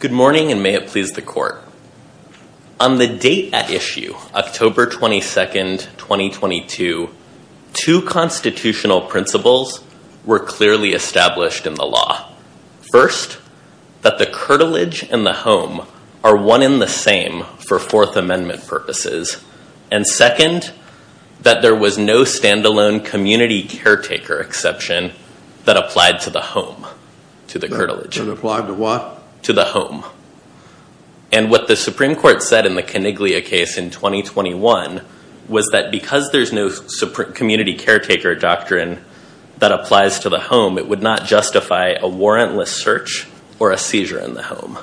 Good morning and may it please the court. On the date at issue, October 22nd, 2022, two constitutional principles were clearly established in the law. First, that the curtilage and the home are one in the same for Fourth Amendment purposes. And second, that there was no stand-alone community caretaker exception that applied to the home, to the curtilage. And what the Supreme Court said in the Coniglia case in 2021 was that because there's no community caretaker doctrine that applies to the home, it would not justify a warrantless search or a seizure in the home.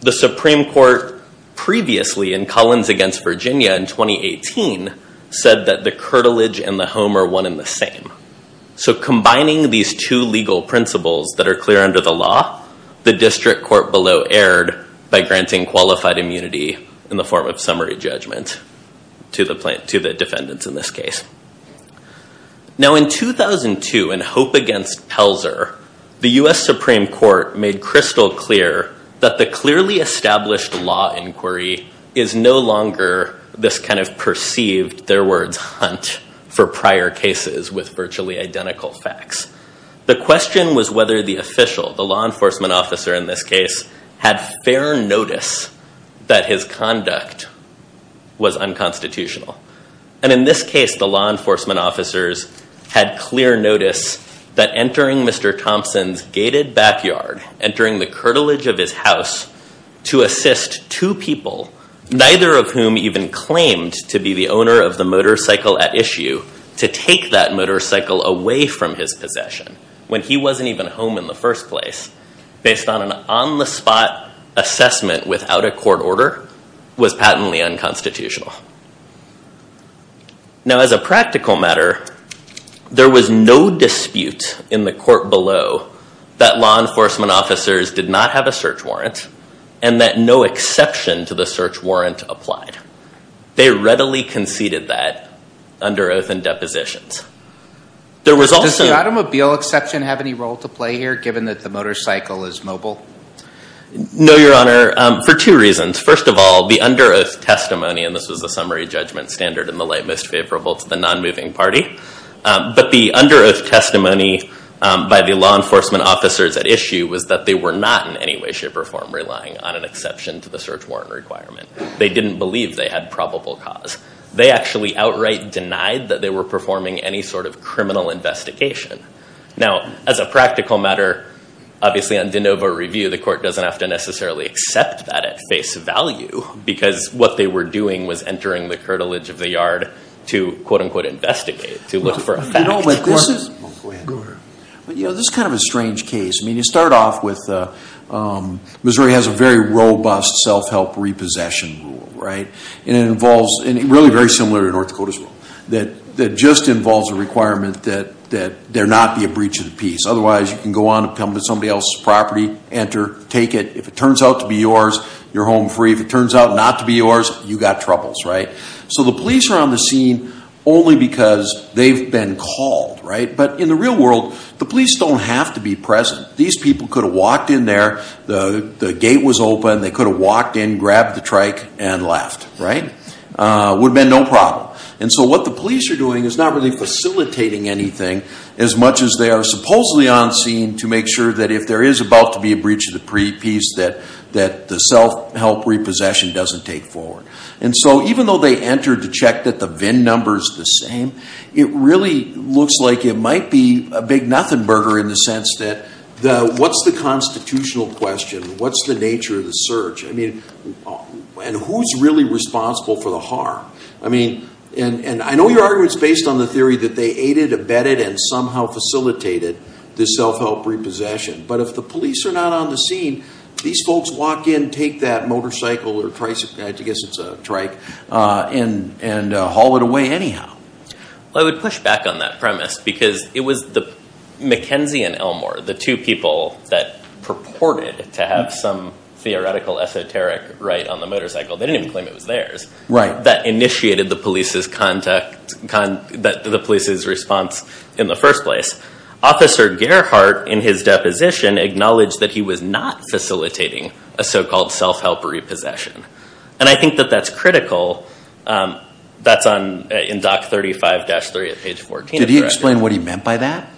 The Supreme Court previously in Collins against Virginia in 2018 said that the curtilage and the home are one in the same. So combining these two legal principles that are clear under the law, the district court below erred by granting qualified immunity in the form of summary judgment to the defendant in this case. Now in 2002 in Hope against Pelzer, the US Supreme Court made crystal clear that the clearly established law inquiry is no longer this kind of perceived, their words, hunt for prior cases with virtually identical facts. The question was whether the official, the law enforcement officer in this case, had fair notice that his conduct was unconstitutional. And in this case, the law enforcement officers had clear notice that entering Mr. Thompson's gated backyard, entering the curtilage of his house to assist two people, neither of whom even claimed to be the owner of the motorcycle at issue, to take that motorcycle away from his possession when he wasn't even home in the first place, based on an on-the-spot assessment without a court order, was patently unconstitutional. Now as a practical matter, there was no dispute in the court below that law enforcement officers did not have a search warrant and that no exception to the search warrant applied. They readily conceded that under oath and depositions. Does the automobile exception have any role to play here, given that the motorcycle is mobile? No, Your Honor, for two reasons. First of all, the under oath testimony, and this was the summary judgment standard in the light most favorable to the non-moving party, but the under oath testimony by the law enforcement officers at issue was that they were not in any way, shape, or form relying on an exception to the search warrant requirement. They didn't believe they had probable cause. They actually outright denied that they were performing any sort of criminal investigation. Now, as a practical matter, obviously on de novo review, the court doesn't have to necessarily accept that at face value, because what they were doing was entering the curtilage of the yard to, quote unquote, investigate, to look for a fact. Go ahead. This is kind of a strange case. I mean, you start off with Missouri has a very robust self-help repossession rule, right? And it involves, and really very similar to North Dakota's rule, that just involves a requirement that there not be a breach of the peace. Otherwise, you can go on and come to somebody else's property, enter, take it. If it turns out to be yours, you're home free. If it turns out not to be yours, you've got troubles, right? So the police are on the scene only because they've been called, right? But in the real world, the police don't have to be present. These people could have walked in there. The gate was open. They could have walked in, grabbed the trike, and left, right? Would have been no problem. And so what the police are doing is not really facilitating anything as much as they are supposedly on scene to make sure that if there is about to be a breach of the peace, that the self-help repossession doesn't take forward. And so even though they entered to check that the VIN number's the same, it really looks like it might be a big nothing burger in the sense that what's the constitutional question? What's the nature of the search? I mean, and who's really responsible for the harm? I mean, and I know your argument's based on the theory that they aided, abetted, and somehow facilitated the self-help repossession. But if the police are not on the scene, these folks walk in, take that motorcycle or tricycle – I guess it's a trike – and haul it away anyhow. Well, I would push back on that premise because it was McKenzie and Elmore, the two people that purported to have some theoretical esoteric right on the motorcycle – they didn't even claim it was theirs – that initiated the police's response in the first place. Officer Gerhart, in his deposition, acknowledged that he was not facilitating a so-called self-help repossession. And I think that that's critical. That's in Doc 35-3 at page 14. Did he explain what he meant by that?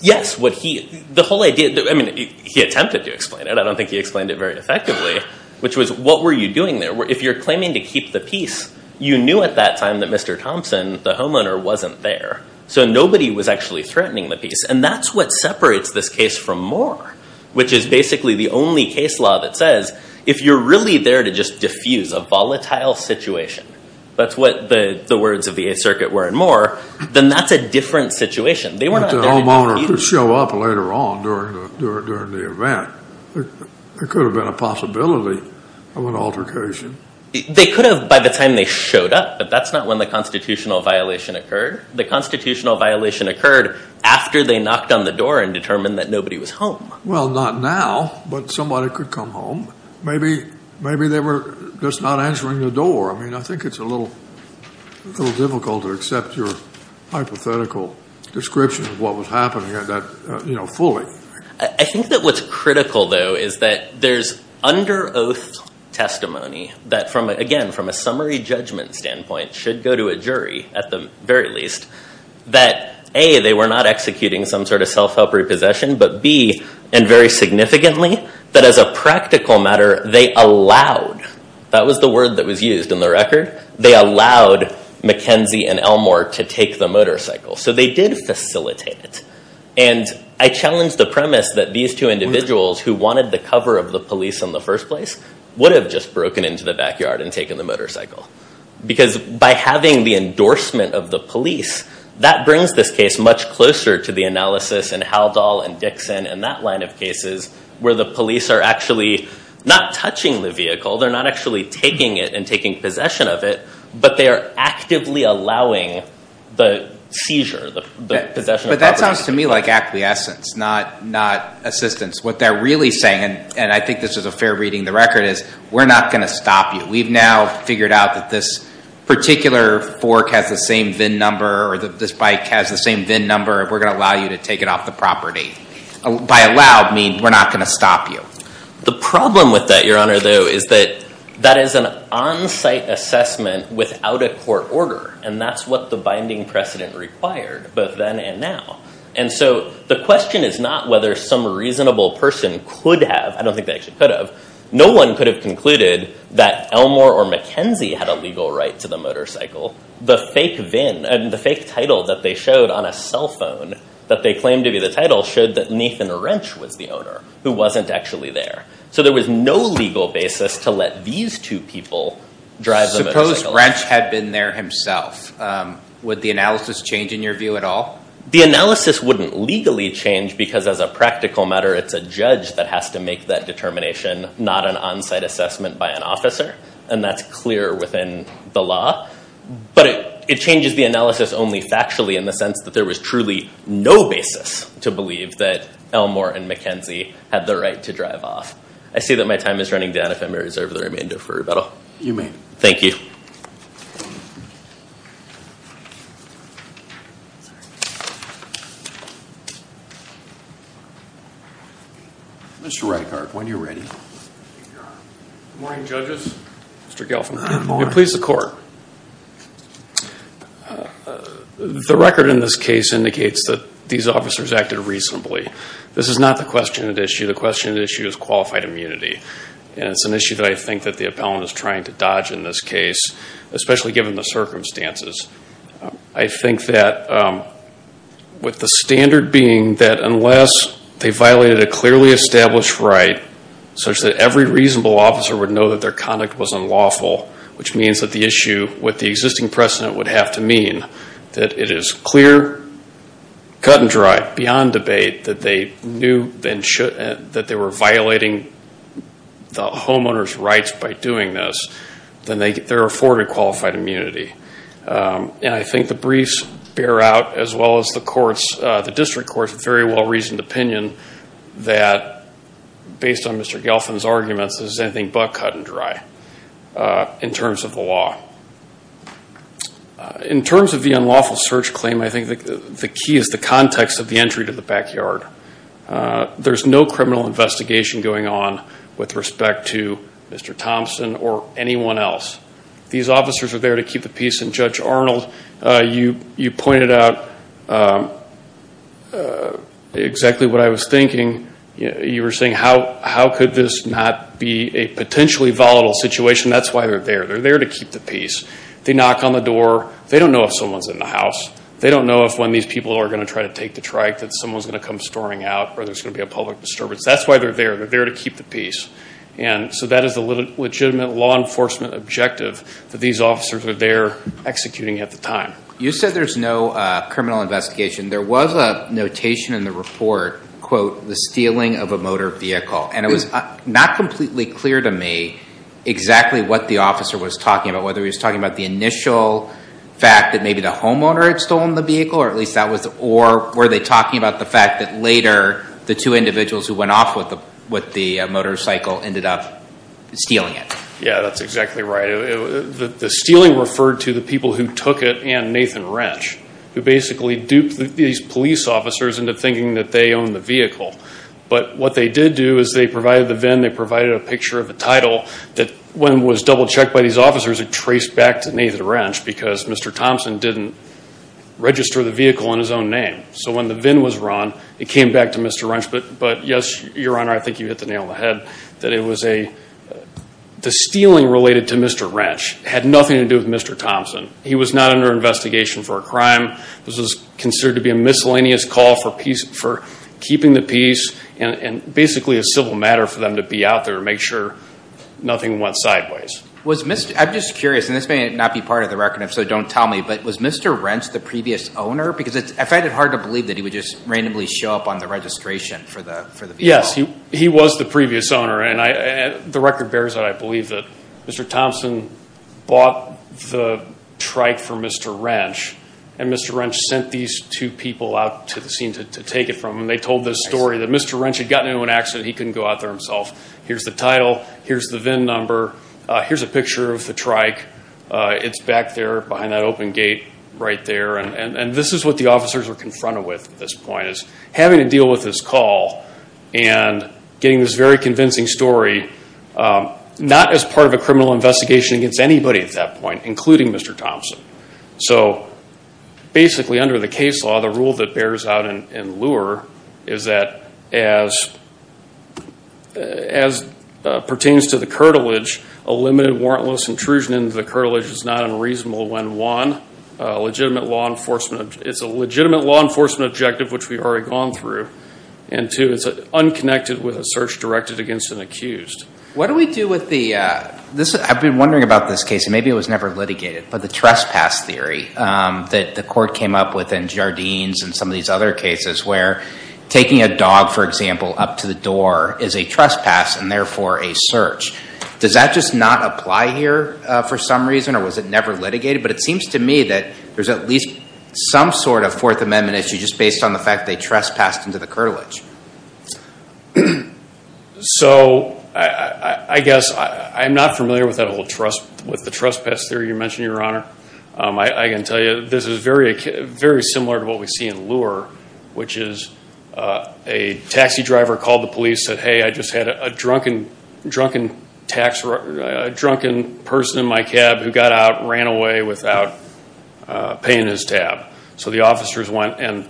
Yes. The whole idea – I mean, he attempted to explain it. I don't think he explained it very effectively, which was, what were you doing there? If you're claiming to keep the peace, you knew at that time that Mr. Thompson, the homeowner, wasn't there. So nobody was actually threatening the peace. And that's what separates this case from Moore, which is basically the only case law that says if you're really there to just diffuse a volatile situation – that's what the words of the Eighth Circuit were in Moore – then that's a different situation. The homeowner could show up later on during the event. There could have been a possibility of an altercation. They could have by the time they showed up, but that's not when the constitutional violation occurred. The constitutional violation occurred after they knocked on the door and determined that nobody was home. Well, not now, but somebody could come home. Maybe they were just not answering the door. I mean, I think it's a little difficult to accept your hypothetical description of what was happening fully. I think that what's critical, though, is that there's under oath testimony that, again, from a summary judgment standpoint, should go to a jury at the very least. That, A, they were not executing some sort of self-help repossession, but B, and very significantly, that as a practical matter, they allowed – that was the word that was used in the record – they allowed McKenzie and Elmore to take the motorcycle. So they did facilitate it. And I challenge the premise that these two individuals who wanted the cover of the police in the first place would have just broken into the backyard and taken the motorcycle. Because by having the endorsement of the police, that brings this case much closer to the analysis in Haldol and Dixon and that line of cases where the police are actually not touching the vehicle. They're not actually taking it and taking possession of it, but they are actively allowing the seizure, the possession of property. That sounds to me like acquiescence, not assistance. What they're really saying, and I think this is a fair reading of the record, is we're not going to stop you. We've now figured out that this particular fork has the same VIN number or that this bike has the same VIN number, and we're going to allow you to take it off the property. By allowed, I mean we're not going to stop you. The problem with that, Your Honor, though, is that that is an on-site assessment without a court order, and that's what the binding precedent required, both then and now. And so the question is not whether some reasonable person could have. I don't think they actually could have. No one could have concluded that Elmore or McKenzie had a legal right to the motorcycle. The fake VIN and the fake title that they showed on a cell phone that they claimed to be the title showed that Nathan Wrench was the owner who wasn't actually there. So there was no legal basis to let these two people drive the motorcycle. Suppose Wrench had been there himself. Would the analysis change in your view at all? The analysis wouldn't legally change because, as a practical matter, it's a judge that has to make that determination, not an on-site assessment by an officer, and that's clear within the law. But it changes the analysis only factually in the sense that there was truly no basis to believe that Elmore and McKenzie had the right to drive off. I see that my time is running down if I may reserve the remainder for rebuttal. You may. Thank you. Mr. Reichhardt, when you're ready. Good morning, judges. Mr. Gelfand. Good morning. Please support. The record in this case indicates that these officers acted reasonably. This is not the question at issue. The question at issue is qualified immunity, and it's an issue that I think that the appellant is trying to dodge in this case, especially given the circumstances. I think that with the standard being that unless they violated a clearly established right such that every reasonable officer would know that their conduct was unlawful, which means that the issue with the existing precedent would have to mean that it is clear, cut and dry, beyond debate, that they were violating the homeowner's rights by doing this, then they're afforded qualified immunity. I think the briefs bear out, as well as the district courts, a very well-reasoned opinion that, based on Mr. Gelfand's arguments, this is anything but cut and dry in terms of the law. In terms of the unlawful search claim, I think the key is the context of the entry to the backyard. There's no criminal investigation going on with respect to Mr. Thompson or anyone else. These officers are there to keep the peace, and Judge Arnold, you pointed out exactly what I was thinking. You were saying, how could this not be a potentially volatile situation? That's why they're there. They're there to keep the peace. They knock on the door. They don't know if someone's in the house. They don't know when these people are going to try to take the trike, that someone's going to come storming out, or there's going to be a public disturbance. That's why they're there. They're there to keep the peace. That is a legitimate law enforcement objective that these officers were there executing at the time. You said there's no criminal investigation. There was a notation in the report, quote, the stealing of a motor vehicle. It was not completely clear to me exactly what the officer was talking about, whether he was talking about the initial fact that maybe the homeowner had stolen the vehicle, or were they talking about the fact that later the two individuals who went off with the motorcycle ended up stealing it? Yeah, that's exactly right. The stealing referred to the people who took it and Nathan Wrench, who basically duped these police officers into thinking that they owned the vehicle. But what they did do is they provided the VIN, they provided a picture of the title, that when it was double-checked by these officers, it traced back to Nathan Wrench because Mr. Thompson didn't register the vehicle in his own name. So when the VIN was run, it came back to Mr. Wrench. But, yes, Your Honor, I think you hit the nail on the head that the stealing related to Mr. Wrench had nothing to do with Mr. Thompson. He was not under investigation for a crime. This was considered to be a miscellaneous call for keeping the peace and basically a civil matter for them to be out there to make sure nothing went sideways. I'm just curious, and this may not be part of the record, so don't tell me, but was Mr. Wrench the previous owner? Because I find it hard to believe that he would just randomly show up on the registration for the vehicle. Yes, he was the previous owner. The record bears out, I believe, that Mr. Thompson bought the trike for Mr. Wrench, and Mr. Wrench sent these two people out to the scene to take it from him. They told this story that Mr. Wrench had gotten into an accident, he couldn't go out there himself. Here's the title, here's the VIN number, here's a picture of the trike. It's back there behind that open gate right there. And this is what the officers were confronted with at this point, which is having to deal with this call and getting this very convincing story, not as part of a criminal investigation against anybody at that point, including Mr. Thompson. So basically under the case law, the rule that bears out in LURE is that as pertains to the cartilage, a limited warrantless intrusion into the cartilage is not unreasonable when one legitimate law enforcement, it's a legitimate law enforcement objective which we've already gone through, and two, it's unconnected with a search directed against an accused. What do we do with the, I've been wondering about this case, and maybe it was never litigated, but the trespass theory that the court came up with in Jardines and some of these other cases where taking a dog, for example, up to the door is a trespass and therefore a search. Does that just not apply here for some reason, or was it never litigated? But it seems to me that there's at least some sort of Fourth Amendment issue just based on the fact that they trespassed into the cartilage. So I guess I'm not familiar with the trespass theory you mentioned, Your Honor. I can tell you this is very similar to what we see in LURE, which is a taxi driver called the police, and he said, hey, I just had a drunken person in my cab who got out, ran away without paying his tab. So the officers went and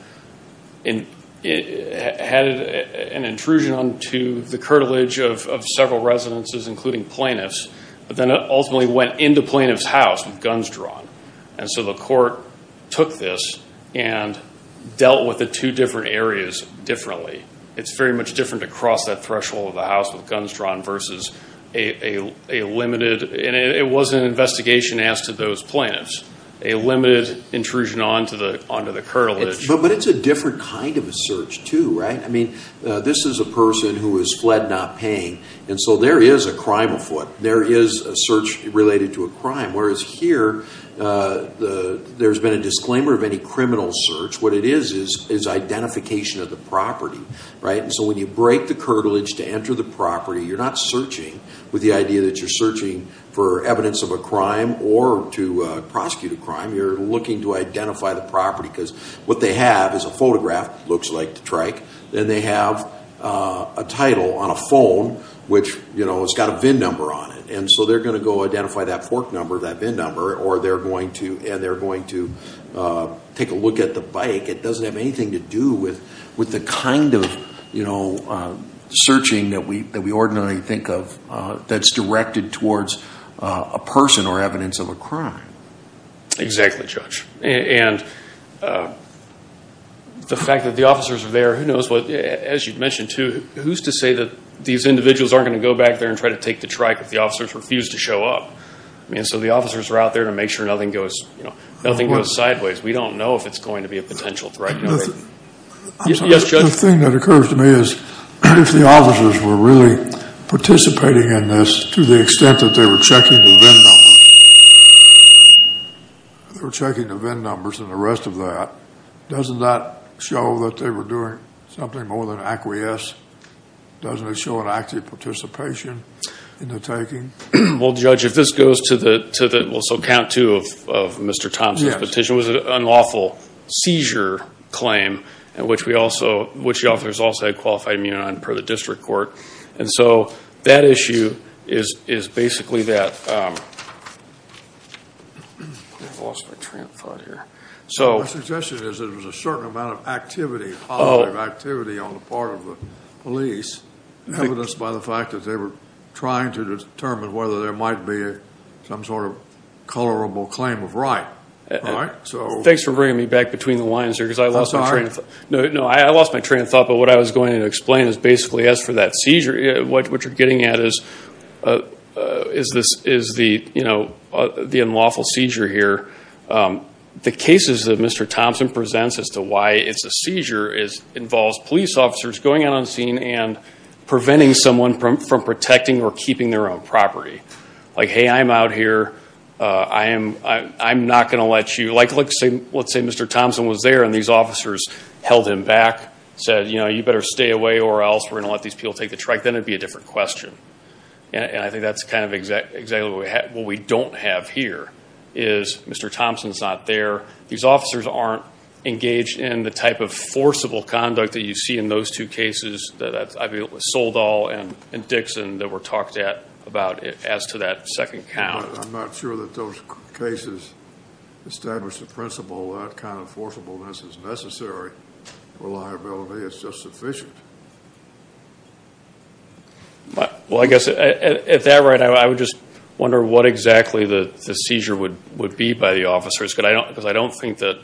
had an intrusion onto the cartilage of several residences, including plaintiffs, but then ultimately went into plaintiff's house with guns drawn. And so the court took this and dealt with the two different areas differently. It's very much different to cross that threshold of the house with guns drawn versus a limited – and it wasn't an investigation asked of those plaintiffs – a limited intrusion onto the cartilage. But it's a different kind of a search, too, right? I mean, this is a person who has fled not paying, and so there is a crime afoot. There is a search related to a crime, whereas here there's been a disclaimer of any criminal search. What it is is identification of the property, right? And so when you break the cartilage to enter the property, you're not searching with the idea that you're searching for evidence of a crime or to prosecute a crime. You're looking to identify the property because what they have is a photograph, looks like the trike. Then they have a title on a phone, which, you know, it's got a VIN number on it. And so they're going to go identify that fork number, that VIN number, and they're going to take a look at the bike. It doesn't have anything to do with the kind of, you know, searching that we ordinarily think of that's directed towards a person or evidence of a crime. Exactly, Judge. And the fact that the officers are there, who knows what – as you mentioned, too, who's to say that these individuals aren't going to go back there and try to take the trike if the officers refuse to show up? I mean, so the officers are out there to make sure nothing goes sideways. We don't know if it's going to be a potential threat. Yes, Judge? The thing that occurs to me is if the officers were really participating in this to the extent that they were checking the VIN numbers and the rest of that, doesn't that show that they were doing something more than acquiesce? Doesn't it show an active participation in the taking? Well, Judge, if this goes to the – well, so count two of Mr. Thompson's petition. It was an unlawful seizure claim, which the officers also had qualified immunity on per the district court. And so that issue is basically that. My suggestion is it was a certain amount of activity, positive activity on the part of the police, evidenced by the fact that they were trying to determine whether there might be some sort of colorable claim of right. Thanks for bringing me back between the lines here because I lost my train of thought. No, I lost my train of thought, but what I was going to explain is basically as for that seizure, what you're getting at is the unlawful seizure here. The cases that Mr. Thompson presents as to why it's a seizure involves police officers going out on scene and preventing someone from protecting or keeping their own property. Like, hey, I'm out here. I'm not going to let you – like let's say Mr. Thompson was there and these officers held him back, said, you know, you better stay away or else we're going to let these people take the trike. Then it would be a different question. And I think that's kind of exactly what we don't have here is Mr. Thompson's not there. These officers aren't engaged in the type of forcible conduct that you see in those two cases, Soledal and Dixon, that were talked about as to that second count. I'm not sure that those cases establish the principle that kind of forcibleness is necessary. Reliability is just sufficient. Well, I guess at that rate, I would just wonder what exactly the seizure would be by the officers because I don't think that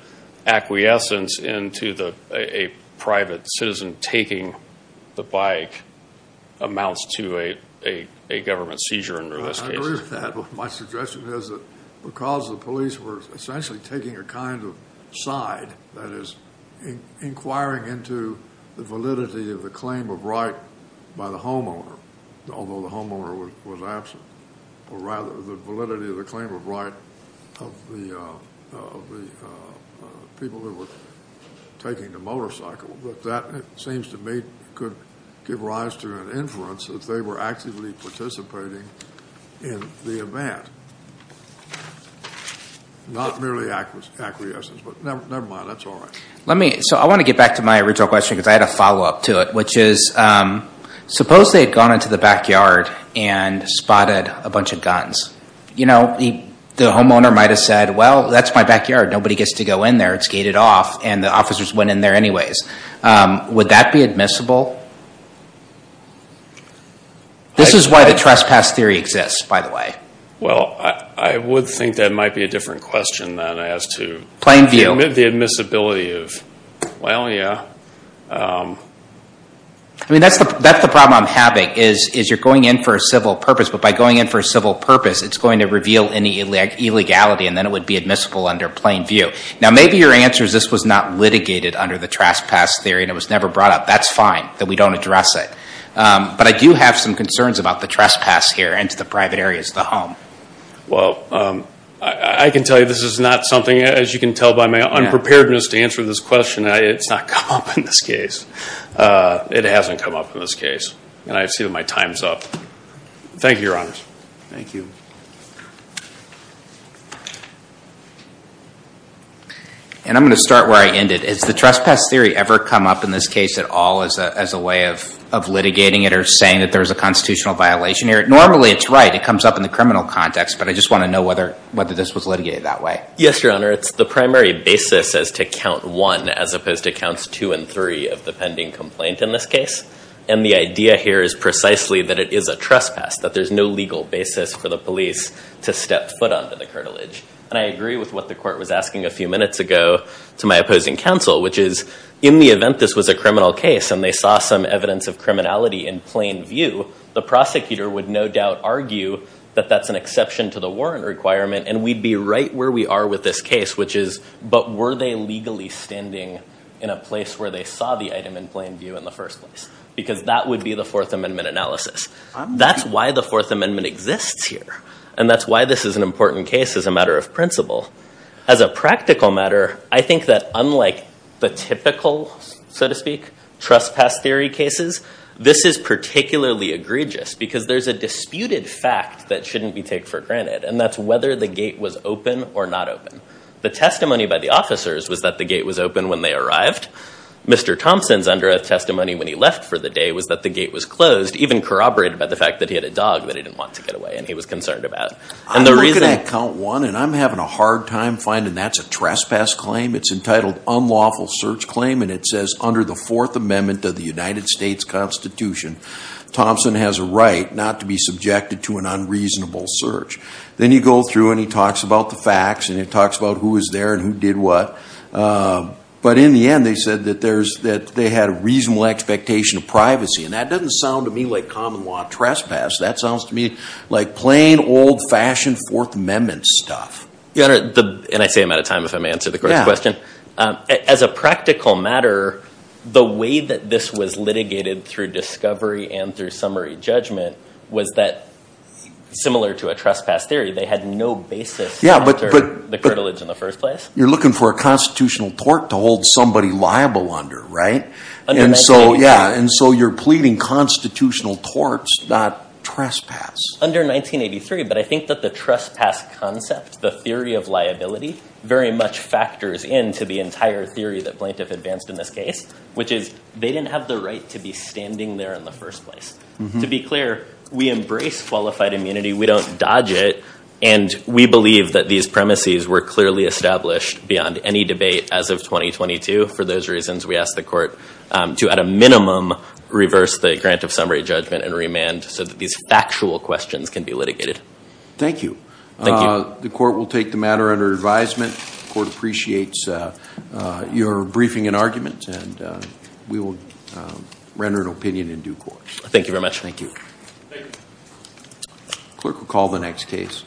acquiescence into a private citizen taking the bike amounts to a government seizure in this case. I agree with that. My suggestion is that because the police were essentially taking a kind of side, that is inquiring into the validity of the claim of right by the homeowner, although the homeowner was absent, or rather the validity of the claim of right of the people who were taking the motorcycle. That seems to me could give rise to an inference that they were actively participating in the event, not merely acquiescence. But never mind, that's all right. So I want to get back to my original question because I had a follow-up to it, which is suppose they had gone into the backyard and spotted a bunch of guns. The homeowner might have said, well, that's my backyard. Nobody gets to go in there. It's gated off and the officers went in there anyways. Would that be admissible? This is why the trespass theory exists, by the way. Well, I would think that might be a different question than as to the admissibility of, well, yeah. I mean, that's the problem I'm having is you're going in for a civil purpose, but by going in for a civil purpose, it's going to reveal any illegality, and then it would be admissible under plain view. Now, maybe your answer is this was not litigated under the trespass theory and it was never brought up. That's fine that we don't address it. But I do have some concerns about the trespass here into the private areas of the home. Well, I can tell you this is not something, as you can tell by my unpreparedness to answer this question, it's not come up in this case. It hasn't come up in this case, and I assume my time's up. Thank you, Your Honors. Thank you. And I'm going to start where I ended. Has the trespass theory ever come up in this case at all as a way of litigating it or saying that there's a constitutional violation here? Normally, it's right. It comes up in the criminal context, but I just want to know whether this was litigated that way. Yes, Your Honor. It's the primary basis as to count one as opposed to counts two and three of the pending complaint in this case. And the idea here is precisely that it is a trespass, that there's no legal basis for the police to step foot onto the cartilage. And I agree with what the court was asking a few minutes ago to my opposing counsel, which is in the event this was a criminal case and they saw some evidence of criminality in plain view, the prosecutor would no doubt argue that that's an exception to the warrant requirement and we'd be right where we are with this case, which is, but were they legally standing in a place where they saw the item in plain view in the first place? Because that would be the Fourth Amendment analysis. That's why the Fourth Amendment exists here, and that's why this is an important case as a matter of principle. As a practical matter, I think that unlike the typical, so to speak, trespass theory cases, this is particularly egregious because there's a disputed fact that shouldn't be taken for granted, and that's whether the gate was open or not open. The testimony by the officers was that the gate was open when they arrived. Mr. Thompson's under oath testimony when he left for the day was that the gate was closed, even corroborated by the fact that he had a dog that he didn't want to get away and he was concerned about. I'm looking at count one, and I'm having a hard time finding that's a trespass claim. It's entitled unlawful search claim, and it says under the Fourth Amendment of the United States Constitution, Thompson has a right not to be subjected to an unreasonable search. Then you go through, and he talks about the facts, and he talks about who was there and who did what. But in the end, they said that they had a reasonable expectation of privacy, and that doesn't sound to me like common law trespass. That sounds to me like plain, old-fashioned Fourth Amendment stuff. Your Honor, and I say I'm out of time if I may answer the court's question. As a practical matter, the way that this was litigated through discovery and through summary judgment was that, similar to a trespass theory, they had no basis after the curtilage in the first place. You're looking for a constitutional tort to hold somebody liable under, right? Under 1983. Yeah, and so you're pleading constitutional torts, not trespass. Under 1983, but I think that the trespass concept, the theory of liability, very much factors into the entire theory that plaintiff advanced in this case, which is they didn't have the right to be standing there in the first place. To be clear, we embrace qualified immunity. We don't dodge it, and we believe that these premises were clearly established beyond any debate as of 2022. For those reasons, we asked the court to, at a minimum, reverse the grant of summary judgment and remand so that these factual questions can be litigated. Thank you. Thank you. The court will take the matter under advisement. The court appreciates your briefing and argument, and we will render an opinion in due course. Thank you very much. Thank you. Clerk will call the next case.